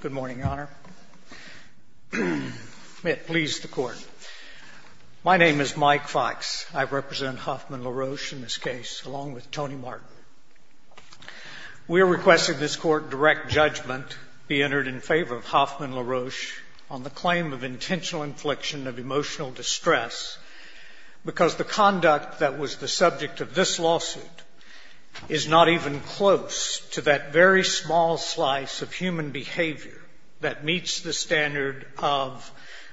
Good morning, Your Honor. May it please the Court, my name is Mike Fykes. I represent Hoffmann-LaRoche in this case, along with Tony Martin. We are requesting this Court direct judgment be entered in favor of Hoffmann-LaRoche on the claim of intentional infliction of emotional distress, because the conduct that was the subject of this lawsuit is not even close to that very small slice of human behavior that meets the standard of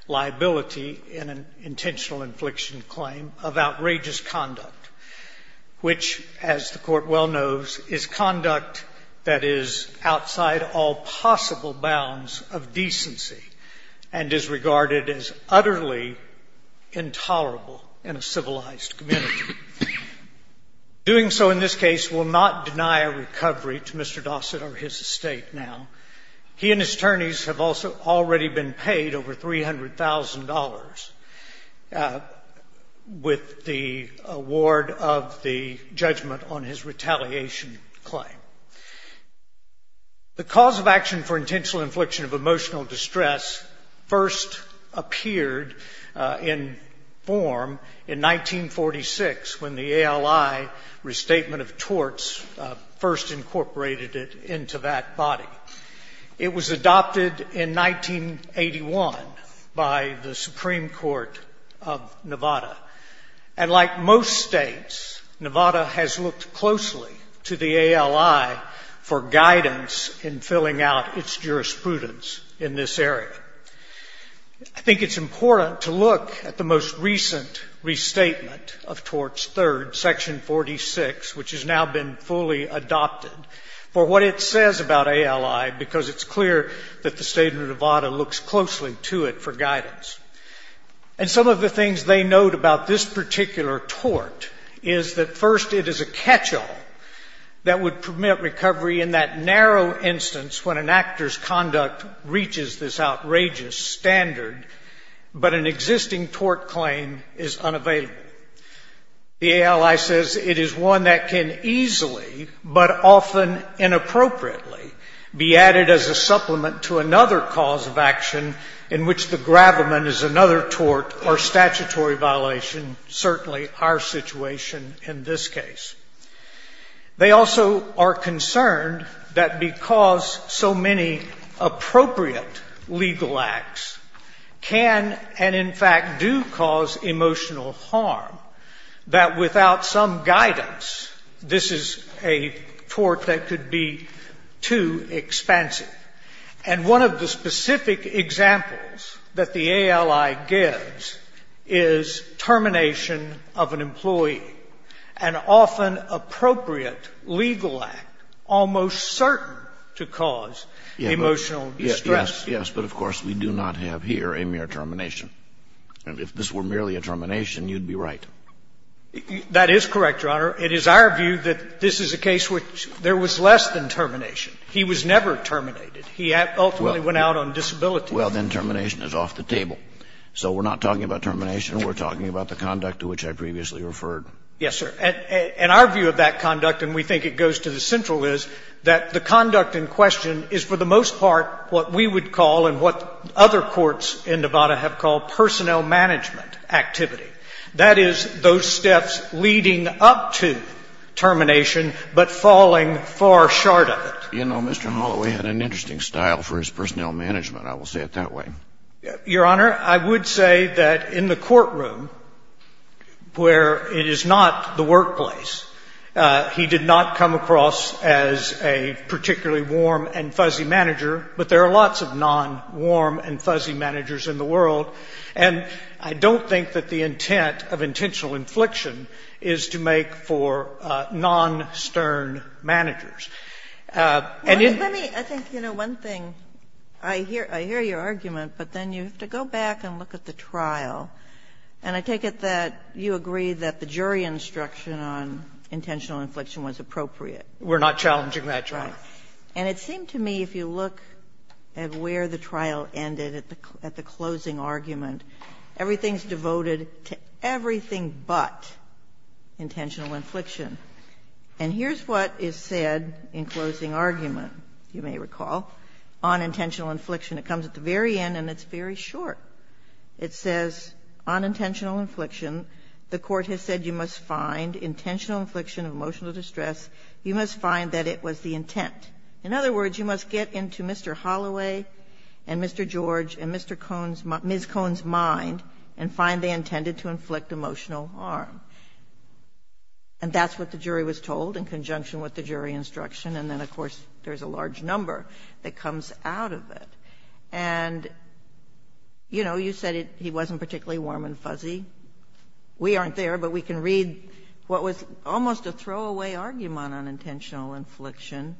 liability in an intentional infliction claim of outrageous conduct, which, as the Court well knows, is conduct that is outside all possible bounds of decency and is regarded as utterly intolerable in a civilized community. Doing so in this case will not deny a recovery to Mr. Dossat or his estate now. He and his attorneys have also already been paid over $300,000 with the award of the judgment on his retaliation claim. The cause of action for intentional infliction of emotional distress first appeared in form in 1946, when the ALI restatement of torts first incorporated it into that body. It was adopted in 1981 by the Supreme Court of Nevada. And like most states, Nevada has looked closely to the ALI for guidance in filling out its jurisprudence in this area. I think it's important to look at the most recent restatement of torts, Section 46, which has now been fully adopted, for what it says about ALI, because it's clear that the state of Nevada looks closely to it for guidance. And some of the things they note about this particular tort is that, first, it is a catch-all that would permit recovery in that narrow instance when an actor's conduct reaches this outrageous standard, but an existing tort claim is unavailable. The ALI says it is one that can easily, but often inappropriately, be added as a supplement to another cause of action in which the grapplement is another tort or statutory violation, certainly our situation in this case. They also are concerned that because so many appropriate legal acts can and, in fact, do cause emotional harm, that without some guidance this is a tort that could be too expensive. And one of the specific examples that the ALI gives is termination of an employee, an often appropriate legal act almost certain to cause emotional distress. Yes. But, of course, we do not have here a mere termination. And if this were merely a termination, you'd be right. That is correct, Your Honor. It is our view that this is a case which there was less than termination. He was never terminated. He ultimately went out on disability. Well, then termination is off the table. So we're not talking about termination. We're talking about the conduct to which I previously referred. Yes, sir. And our view of that conduct, and we think it goes to the central, is that the conduct in question is for the most part what we would call and what other courts in Nevada have called personnel management activity. That is, those steps leading up to termination, but falling far short of it. You know, Mr. Holloway had an interesting style for his personnel management. I will say it that way. Your Honor, I would say that in the courtroom where it is not the workplace, he did not come across as a particularly warm and fuzzy manager, but there are lots of non-warm and fuzzy managers in the world. And I don't think that the intent of intentional infliction is to make for non-stern managers. And it's the law. Kagan. And I think you know, one thing, I hear your argument, but then you have to go back and look at the trial. And I take it that you agree that the jury instruction on intentional infliction was appropriate. We're not challenging that, Your Honor. Right. And it seemed to me, if you look at where the trial ended, at the closing argument, everything is devoted to everything but intentional infliction. And here's what is said in closing argument, you may recall, on intentional infliction. It comes at the very end and it's very short. It says, on intentional infliction, the Court has said you must find intentional infliction of emotional distress, you must find that it was the intent. In other words, you must get into Mr. Holloway and Mr. George and Ms. Cone's mind and find they intended to inflict emotional harm. And that's what the jury was told in conjunction with the jury instruction. And then, of course, there's a large number that comes out of it. And you know, you said he wasn't particularly warm and fuzzy. We aren't there, but we can read what was almost a throwaway argument on intentional infliction.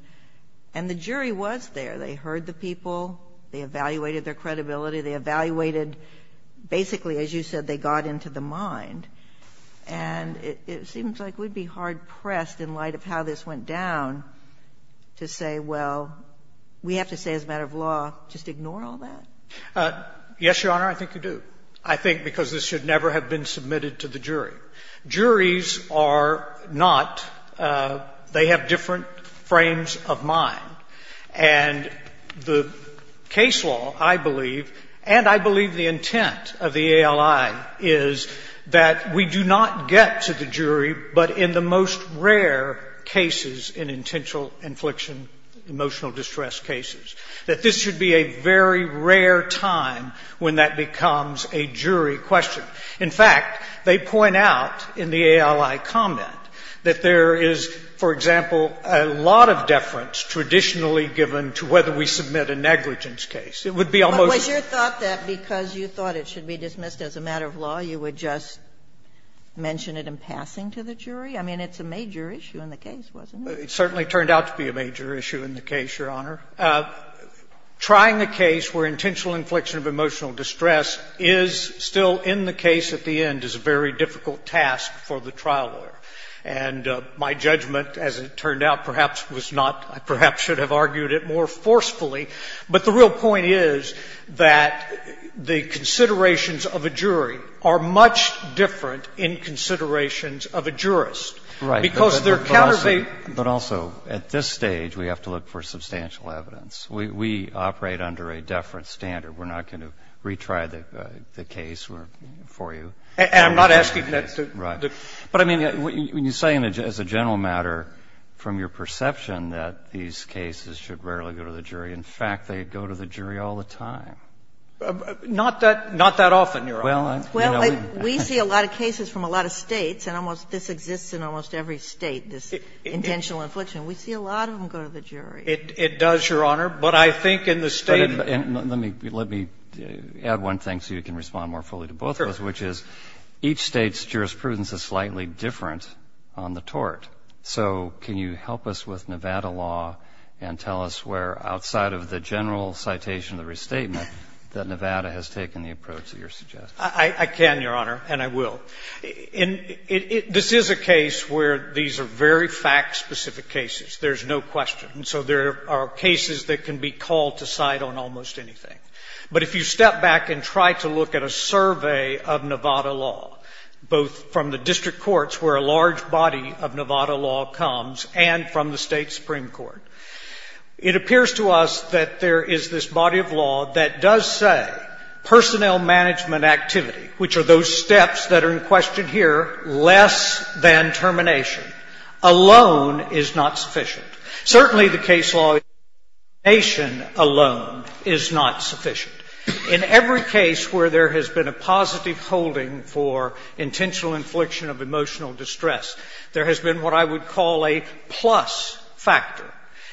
And the jury was there. They heard the people. They evaluated their credibility. They evaluated, basically, as you said, they got into the mind. And it seems like we'd be hard-pressed in light of how this went down to say, well, we have to say as a matter of law, just ignore all that? Yes, Your Honor, I think you do. I think because this should never have been submitted to the jury. Juries are not. They have different frames of mind. And the case law, I believe, and I believe the intent of the ALI is that we do not get to the jury but in the most rare cases in intentional infliction, emotional distress cases, that this should be a very rare time when that becomes a jury question. In fact, they point out in the ALI comment that there is, for example, a lot of deference traditionally given to whether we submit a negligence case. It would be almost the same. But was your thought that because you thought it should be dismissed as a matter of law, you would just mention it in passing to the jury? I mean, it's a major issue in the case, wasn't it? It certainly turned out to be a major issue in the case, Your Honor. Trying a case where intentional infliction of emotional distress is still in the case at the end is a very difficult task for the trial lawyer. And my judgment, as it turned out, perhaps was not, I perhaps should have argued it more forcefully, but the real point is that the considerations of a jury are much different in considerations of a jurist. Right. Because they're countervailing. But also, at this stage, we have to look for substantial evidence. We operate under a deference standard. We're not going to retry the case for you. And I'm not asking that to the jury. But I mean, when you say as a general matter from your perception that these cases should rarely go to the jury, in fact, they go to the jury all the time. Not that often, Your Honor. Well, we see a lot of cases from a lot of States, and almost this exists in almost every State, this intentional infliction. We see a lot of them go to the jury. It does, Your Honor. But I think in the State. Let me add one thing so you can respond more fully to both of those, which is each State's jurisprudence is slightly different on the tort. So can you help us with Nevada law and tell us where, outside of the general citation of the restatement, that Nevada has taken the approach that you're suggesting? I can, Your Honor, and I will. This is a case where these are very fact-specific cases. There's no question. And so there are cases that can be called to side on almost anything. But if you step back and try to look at a survey of Nevada law, both from the district courts, where a large body of Nevada law comes, and from the State Supreme Court, it appears to us that there is this body of law that does say personnel management activity, which are those steps that are in question here, less than termination, alone is not sufficient. Certainly the case law termination alone is not sufficient. In every case where there has been a positive holding for intentional infliction of emotional distress, there has been what I would call a plus factor.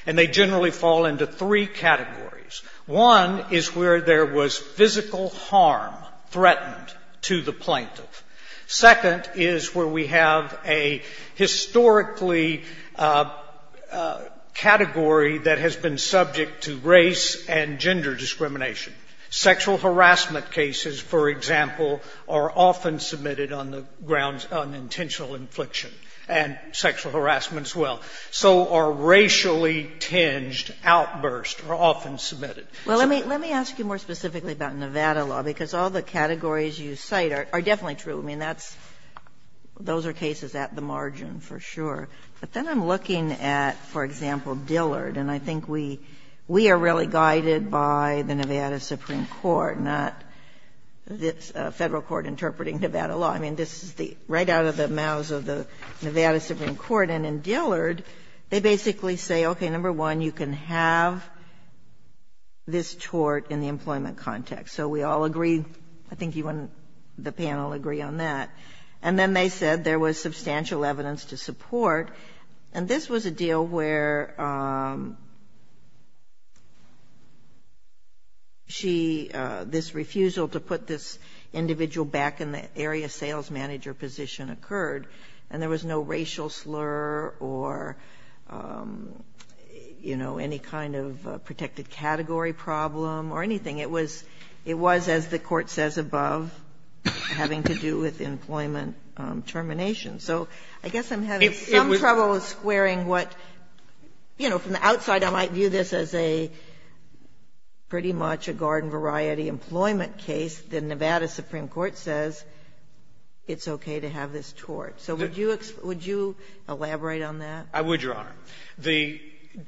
And they generally fall into three categories. One is where there was physical harm threatened to the plaintiff. Second is where we have a historically category that has been subject to race and gender discrimination. Sexual harassment cases, for example, are often submitted on the grounds of unintentional infliction, and sexual harassment as well. So are racially tinged, outbursts, are often submitted. Well, let me ask you more specifically about Nevada law, because all the categories you cite are definitely true. I mean, that's – those are cases at the margin, for sure. But then I'm looking at, for example, Dillard, and I think we are really guided by the Nevada Supreme Court, not the Federal Court interpreting Nevada law. I mean, this is the – right out of the mouths of the Nevada Supreme Court. And in Dillard, they basically say, okay, number one, you can have this tort in the employment context. So we all agree. I think you and the panel agree on that. And then they said there was substantial evidence to support. And this was a deal where she – this refusal to put this individual back in the area sales manager position occurred, and there was no racial slur or, you know, any kind of protected category problem or anything. It was – it was, as the Court says above, having to do with employment termination. So I guess I'm having some trouble squaring what – you know, from the outside I might view this as a pretty much a garden-variety employment case. The Nevada Supreme Court says it's okay to have this tort. So would you – would you elaborate on that? I would, Your Honor. The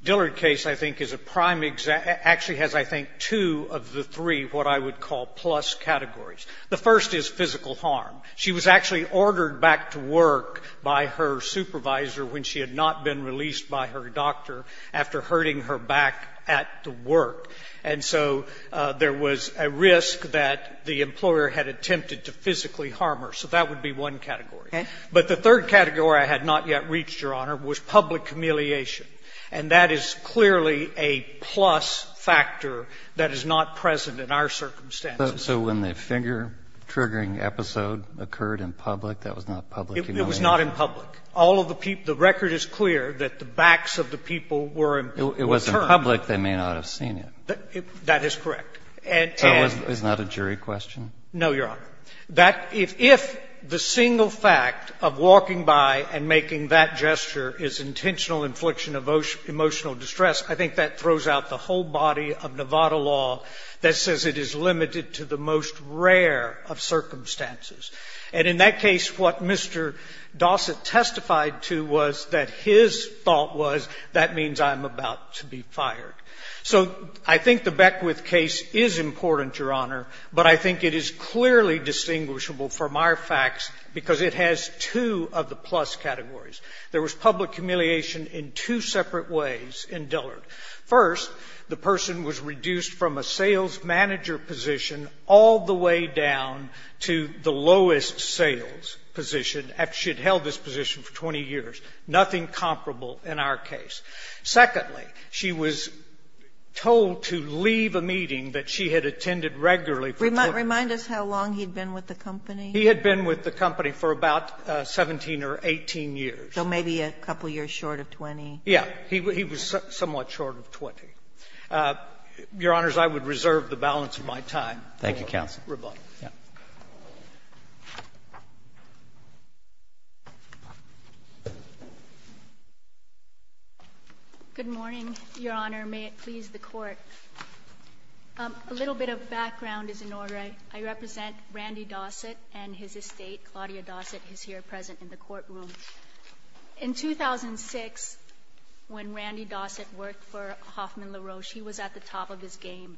Dillard case, I think, is a prime – actually has, I think, two of the three what I would call plus categories. The first is physical harm. She was actually ordered back to work by her supervisor when she had not been released by her doctor after hurting her back at the work. And so there was a risk that the employer had attempted to physically harm her. So that would be one category. Okay. But the third category I had not yet reached, Your Honor, was public humiliation. And that is clearly a plus factor that is not present in our circumstances. So when the finger-triggering episode occurred in public, that was not public humiliation? It was not in public. All of the people – the record is clear that the backs of the people were in – were turned. It was in public. They may not have seen it. That is correct. And – and – So it was not a jury question? No, Your Honor. That – if the single fact of walking by and making that gesture is intentional infliction of emotional distress, I think that throws out the whole body of Nevada law that says it is limited to the most rare of circumstances. And in that case, what Mr. Dossett testified to was that his thought was, that means I'm about to be fired. So I think the Beckwith case is important, Your Honor. But I think it is clearly distinguishable from our facts because it has two of the plus categories. There was public humiliation in two separate ways in Dillard. First, the person was reduced from a sales manager position all the way down to the lowest sales position after she had held this position for 20 years. Nothing comparable in our case. Secondly, she was told to leave a meeting that she had attended regularly for 20 years. Remind us how long he had been with the company. He had been with the company for about 17 or 18 years. So maybe a couple of years short of 20. Yes. He was somewhat short of 20. Your Honors, I would reserve the balance of my time. Thank you, counsel. Rebuttal. Good morning, Your Honor. May it please the Court. A little bit of background is in order. I represent Randy Dossett and his estate. Claudia Dossett is here present in the courtroom. In 2006, when Randy Dossett worked for Hoffman LaRoche, he was at the top of his game.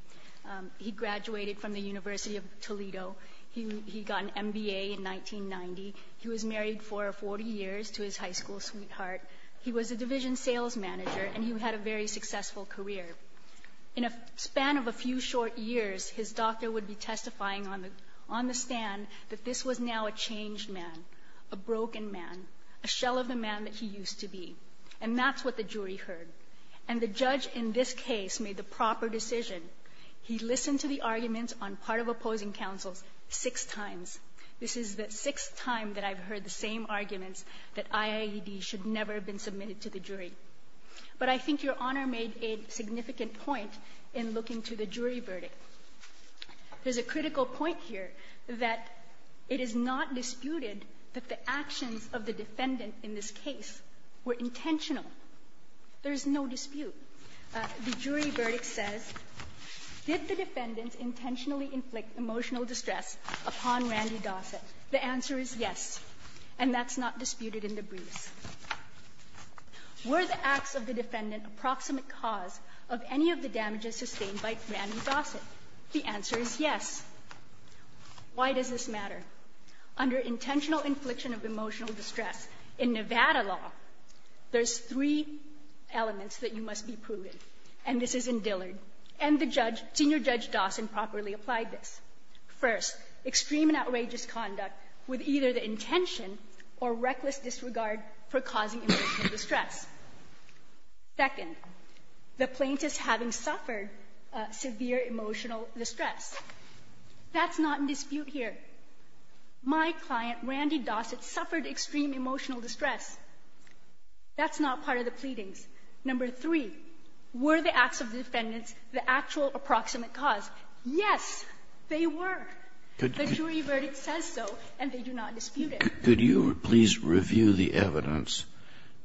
He graduated from the University of Toledo. He got an MBA in 1990. He was married for 40 years to his high school sweetheart. He was a division sales manager, and he had a very successful career. In a span of a few short years, his doctor would be testifying on the stand that this was now a changed man, a broken man, a shell of the man that he used to be. And that's what the jury heard. And the judge in this case made the proper decision. He listened to the arguments on part of opposing counsels six times. This is the sixth time that I've heard the same arguments that IAED should never have been submitted to the jury. But I think Your Honor made a significant point in looking to the jury verdict. There's a critical point here that it is not disputed that the actions of the defendant in this case were intentional. There's no dispute. The jury verdict says, did the defendant intentionally inflict emotional distress upon Randy Dossett? The answer is yes, and that's not disputed in the briefs. Were the acts of the defendant approximate cause of any of the damages sustained by Randy Dossett? Why does this matter? Under intentional infliction of emotional distress in Nevada law, there's three elements that you must be proven, and this is in Dillard. And the judge, Senior Judge Dossett, properly applied this. First, extreme and outrageous conduct with either the intention or reckless disregard for causing emotional distress. Second, the plaintiff's having suffered severe emotional distress. That's not in dispute here. My client, Randy Dossett, suffered extreme emotional distress. That's not part of the pleadings. Number three, were the acts of the defendants the actual approximate cause? Yes, they were. The jury verdict says so, and they do not dispute it. Kennedy. Could you please review the evidence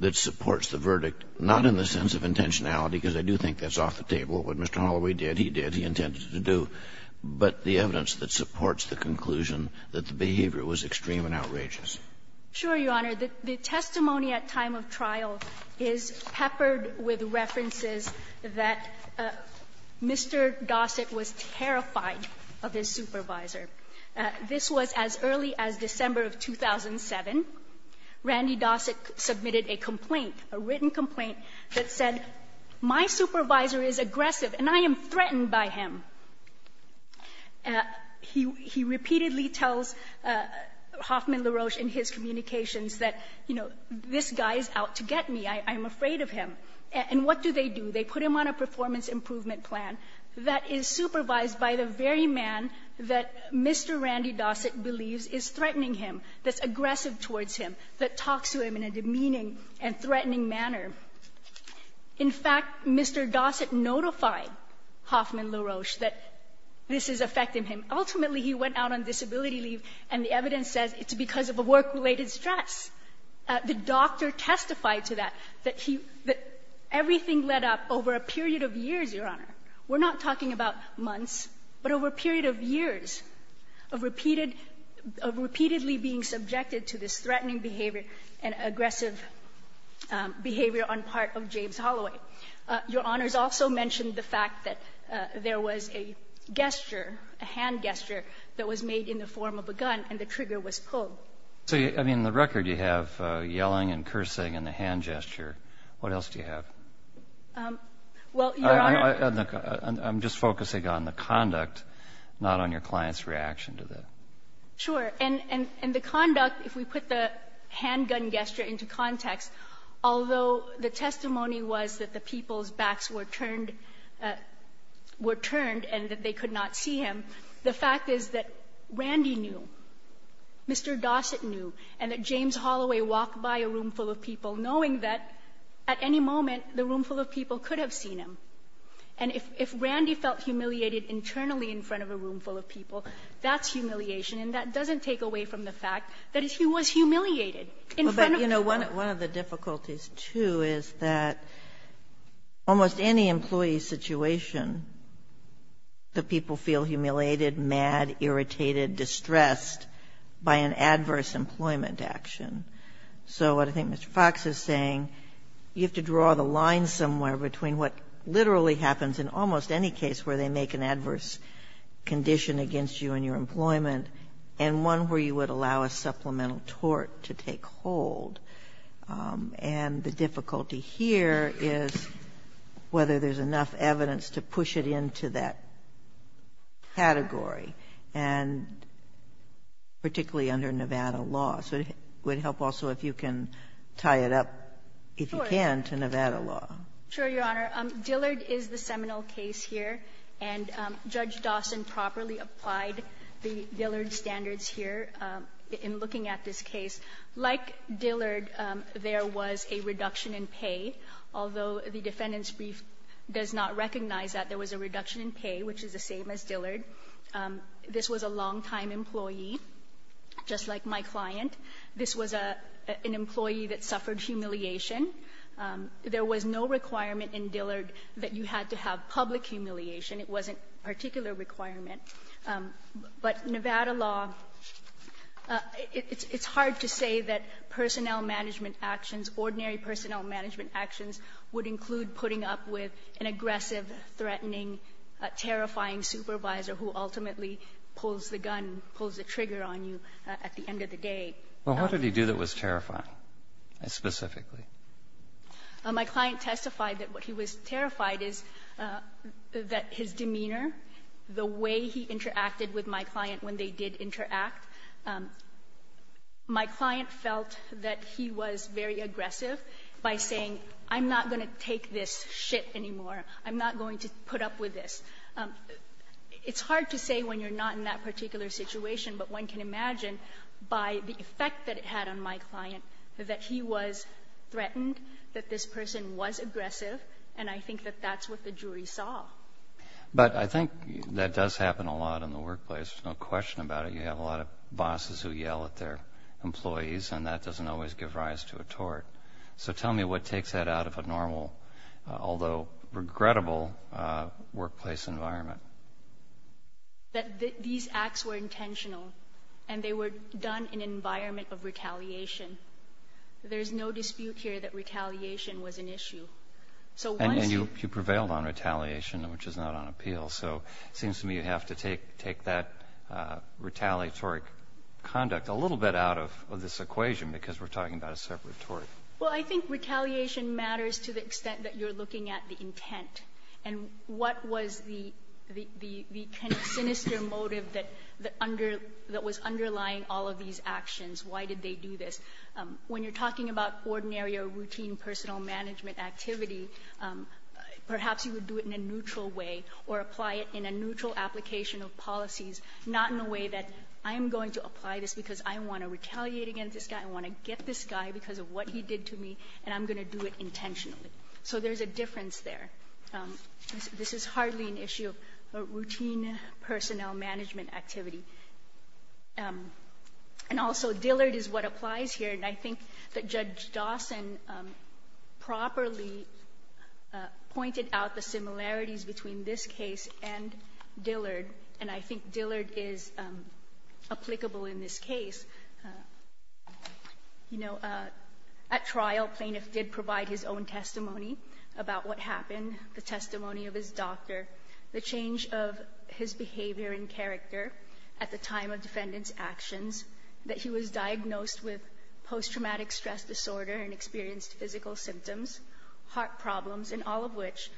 that supports the verdict, not in the sense of intentionality, because I do think that's off the table, what Mr. Holloway did, he did, he intended to do. But the evidence that supports the conclusion that the behavior was extreme and outrageous. Sure, Your Honor. The testimony at time of trial is peppered with references that Mr. Dossett was terrified of his supervisor. This was as early as December of 2007. Randy Dossett submitted a complaint, a written complaint, that said, my supervisor is aggressive and I am threatened by him. He repeatedly tells Hoffman LaRoche in his communications that, you know, this guy is out to get me. I'm afraid of him. And what do they do? They put him on a performance improvement plan that is supervised by the very man that Mr. Randy Dossett believes is threatening him, that's aggressive towards him, that talks to him in a demeaning and threatening manner. In fact, Mr. Dossett notified Hoffman LaRoche that this is affecting him. Ultimately, he went out on disability leave and the evidence says it's because of a work-related stress. The doctor testified to that, that he, that everything led up over a period of years, Your Honor. We're not talking about months, but over a period of years of repeated, of repeatedly being subjected to this threatening behavior and aggressive behavior on part of James Holloway. Your Honor's also mentioned the fact that there was a gesture, a hand gesture, that was made in the form of a gun and the trigger was pulled. So, I mean, in the record you have yelling and cursing and the hand gesture. What else do you have? Well, Your Honor. I'm just focusing on the conduct, not on your client's reaction to that. Sure. And the conduct, if we put the handgun gesture into context, although the testimony was that the people's backs were turned, were turned and that they could not see him, the fact is that Randy knew, Mr. Dossett knew, and that James Holloway walked by a roomful of people knowing that at any moment the roomful of people could have seen him. And if Randy felt humiliated internally in front of a roomful of people, that's humiliation, and that doesn't take away from the fact that he was humiliated in front of people. Well, but, you know, one of the difficulties, too, is that almost any employee's situation, the people feel humiliated, mad, irritated, distressed by an adverse employment action. So what I think Mr. Fox is saying, you have to draw the line somewhere between what literally happens in almost any case where they make an adverse condition against you and your employment and one where you would allow a supplemental tort to take hold, and the difficulty here is whether there's enough evidence to push it into that category, and particularly under Nevada law. So it would help also if you can tie it up, if you can, to Nevada law. Sure, Your Honor. Dillard is the seminal case here, and Judge Dawson properly applied the Dillard standards here in looking at this case. Like Dillard, there was a reduction in pay, although the defendant's brief does not recognize that there was a reduction in pay, which is the same as Dillard. This was a long-time employee, just like my client. This was an employee that suffered humiliation. There was no requirement in Dillard that you had to have public humiliation. It wasn't a particular requirement. But Nevada law, it's hard to say that personnel management actions, ordinary personnel management actions would include putting up with an aggressive, threatening, terrifying supervisor who ultimately pulls the gun, pulls the trigger on you at the end of the day. Well, what did he do that was terrifying, specifically? My client testified that what he was terrified is that his demeanor, the way he interacted with my client when they did interact, my client felt that he was very aggressive by saying, I'm not going to take this shit anymore, I'm not going to put up with this. It's hard to say when you're not in that particular situation, but one can imagine by the effect that it had on my client that he was threatened, that this person was aggressive, and I think that that's what the jury saw. But I think that does happen a lot in the workplace. There's no question about it. You have a lot of bosses who yell at their employees, and that doesn't always give rise to a tort. So tell me what takes that out of a normal, although regrettable, workplace environment. That these acts were intentional, and they were done in an environment of retaliation. There's no dispute here that retaliation was an issue. And you prevailed on retaliation, which is not on appeal, so it seems to me you have to take that retaliatory conduct a little bit out of this equation because we're talking about a separate tort. Well, I think retaliation matters to the extent that you're looking at the intent and what was the kind of sinister motive that was underlying all of these actions. Why did they do this? When you're talking about ordinary or routine personal management activity, perhaps you would do it in a neutral way or apply it in a neutral application of policies, not in a way that I'm going to apply this because I want to retaliate against this guy, I want to get this guy because of what he did to me, and I'm going to do it intentionally. So there's a difference there. This is hardly an issue of routine personnel management activity. And also, Dillard is what applies here, and I think that Judge Dawson properly pointed out the similarities between this case and Dillard, and I think Dillard is applicable in this case. You know, at trial, plaintiff did provide his own testimony about what happened, the testimony of his doctor, the change of his behavior and character at the time of defendant's actions, that he was diagnosed with post-traumatic stress disorder and experienced physical symptoms, heart problems, and all of which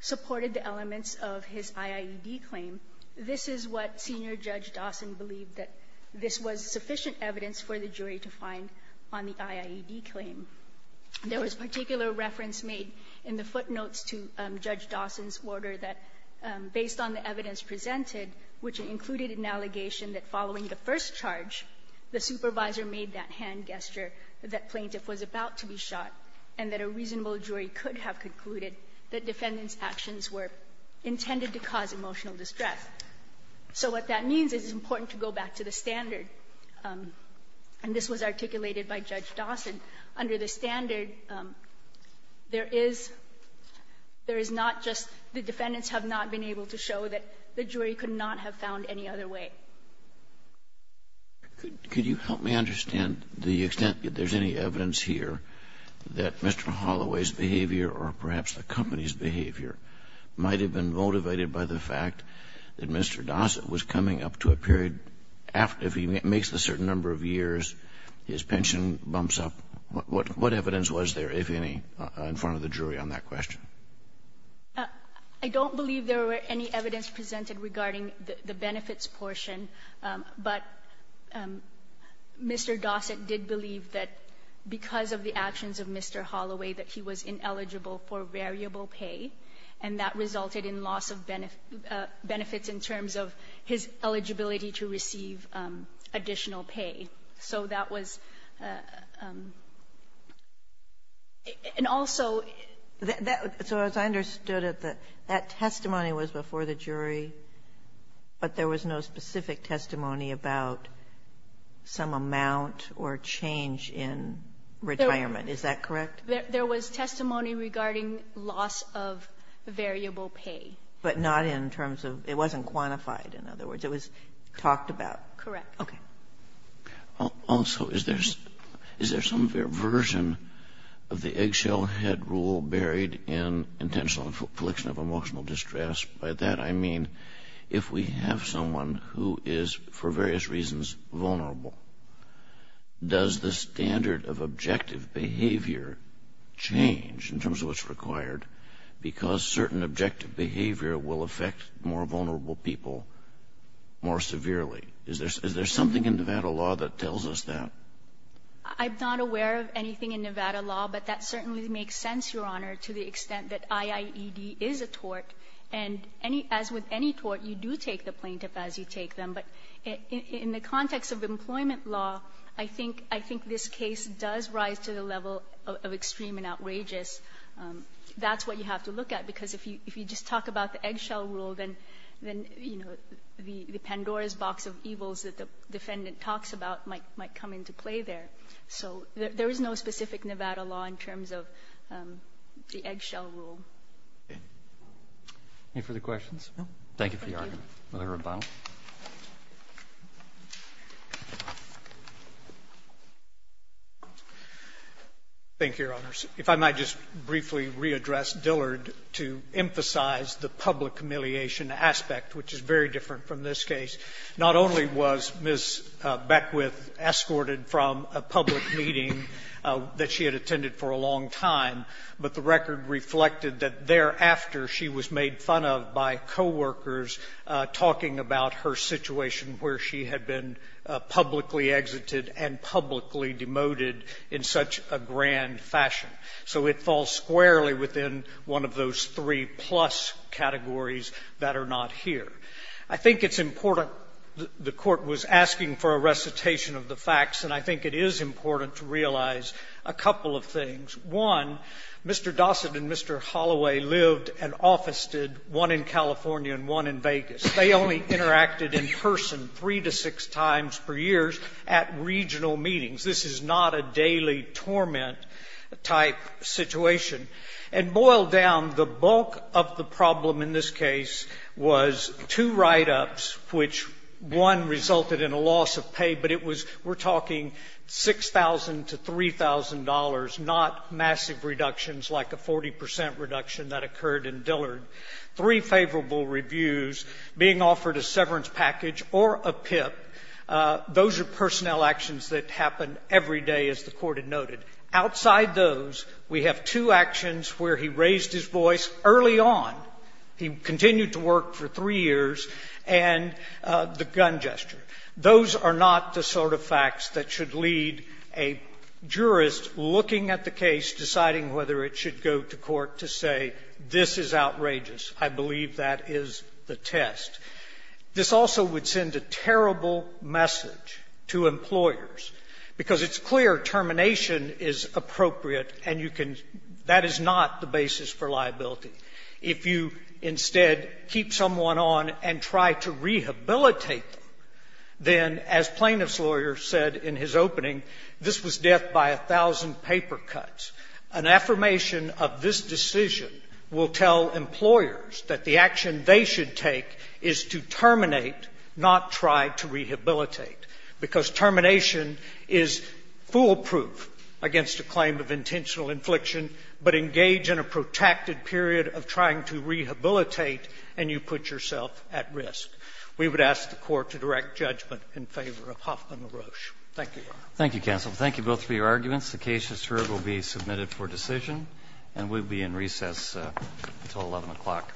supported the elements of his IIED claim. This is what Senior Judge Dawson believed that this was sufficient evidence for the jury to find on the IIED claim. There was particular reference made in the footnotes to Judge Dawson's order that based on the evidence presented, which included an allegation that following the first charge, the supervisor made that hand gesture that plaintiff was about to be shot, and that a reasonable jury could have concluded that defendant's So what that means is it's important to go back to the standard, and this was articulated by Judge Dawson. Under the standard, there is not just the defendants have not been able to show that the jury could not have found any other way. Kennedy. Could you help me understand the extent that there's any evidence here that Mr. Holloway's behavior or perhaps the company's behavior might have been motivated by the fact that Mr. Dawson was coming up to a period, if he makes a certain number of years, his pension bumps up? What evidence was there, if any, in front of the jury on that question? I don't believe there were any evidence presented regarding the benefits portion, but Mr. Dawson did believe that because of the actions of Mr. Holloway that he was receiving additional benefits in terms of his eligibility to receive additional pay. So that was and also So as I understood it, that testimony was before the jury, but there was no specific testimony about some amount or change in retirement. Is that correct? There was testimony regarding loss of variable pay. But not in terms of, it wasn't quantified, in other words. It was talked about. Correct. Okay. Also, is there some version of the eggshell head rule buried in intentional affliction of emotional distress? By that I mean, if we have someone who is, for various reasons, vulnerable, does the standard of objective behavior change in terms of what's required because certain objective behavior will affect more vulnerable people more severely? Is there something in Nevada law that tells us that? I'm not aware of anything in Nevada law, but that certainly makes sense, Your Honor, to the extent that IIED is a tort. And as with any tort, you do take the plaintiff as you take them. But in the context of employment law, I think this case does rise to the level of extreme and outrageous. That's what you have to look at, because if you just talk about the eggshell rule, then, you know, the Pandora's box of evils that the defendant talks about might come into play there. So there is no specific Nevada law in terms of the eggshell rule. Okay. Any further questions? No? Thank you for your argument. Thank you. Mr. Rabano. Thank you, Your Honors. If I might just briefly readdress Dillard to emphasize the public humiliation aspect, which is very different from this case. Not only was Ms. Beckwith escorted from a public meeting that she had attended for a long time, but the record reflected that thereafter she was made fun of by coworkers talking about her situation where she had been publicly exited and publicly demoted in such a grand fashion. So it falls squarely within one of those three-plus categories that are not here. I think it's important. The Court was asking for a recitation of the facts, and I think it is important to realize a couple of things. One, Mr. Dossett and Mr. Holloway lived and officed one in California and one in Vegas. They only interacted in person three to six times per year at regional meetings. This is not a daily torment-type situation. And boiled down, the bulk of the problem in this case was two write-ups, which one resulted in a loss of pay, but it was, we're talking $6,000 to $3,000, not massive reductions like a 40 percent reduction that occurred in Dillard. Three favorable reviews, being offered a severance package or a PIP. Those are personnel actions that happen every day, as the Court had noted. Outside those, we have two actions where he raised his voice early on. He continued to work for three years, and the gun gesture. Those are not the sort of facts that should lead a jurist looking at the case, deciding whether it should go to court to say, this is outrageous. I believe that is the test. This also would send a terrible message to employers, because it's clear termination is appropriate and you can — that is not the basis for liability. If you instead keep someone on and try to rehabilitate them, then, as plaintiff's lawyer said in his opening, this was death by a thousand paper cuts. An affirmation of this decision will tell employers that the action they should take is to terminate, not try to rehabilitate, because termination is foolproof against a claim of intentional infliction, but engage in a protected period of trying to rehabilitate and you put yourself at risk. We would ask the Court to direct judgment in favor of Hoffman LaRoche. Thank you, Your Honor. Thank you, counsel. Thank you both for your arguments. The case is heard, will be submitted for decision, and we will be in recess until 11 o'clock. Thank you.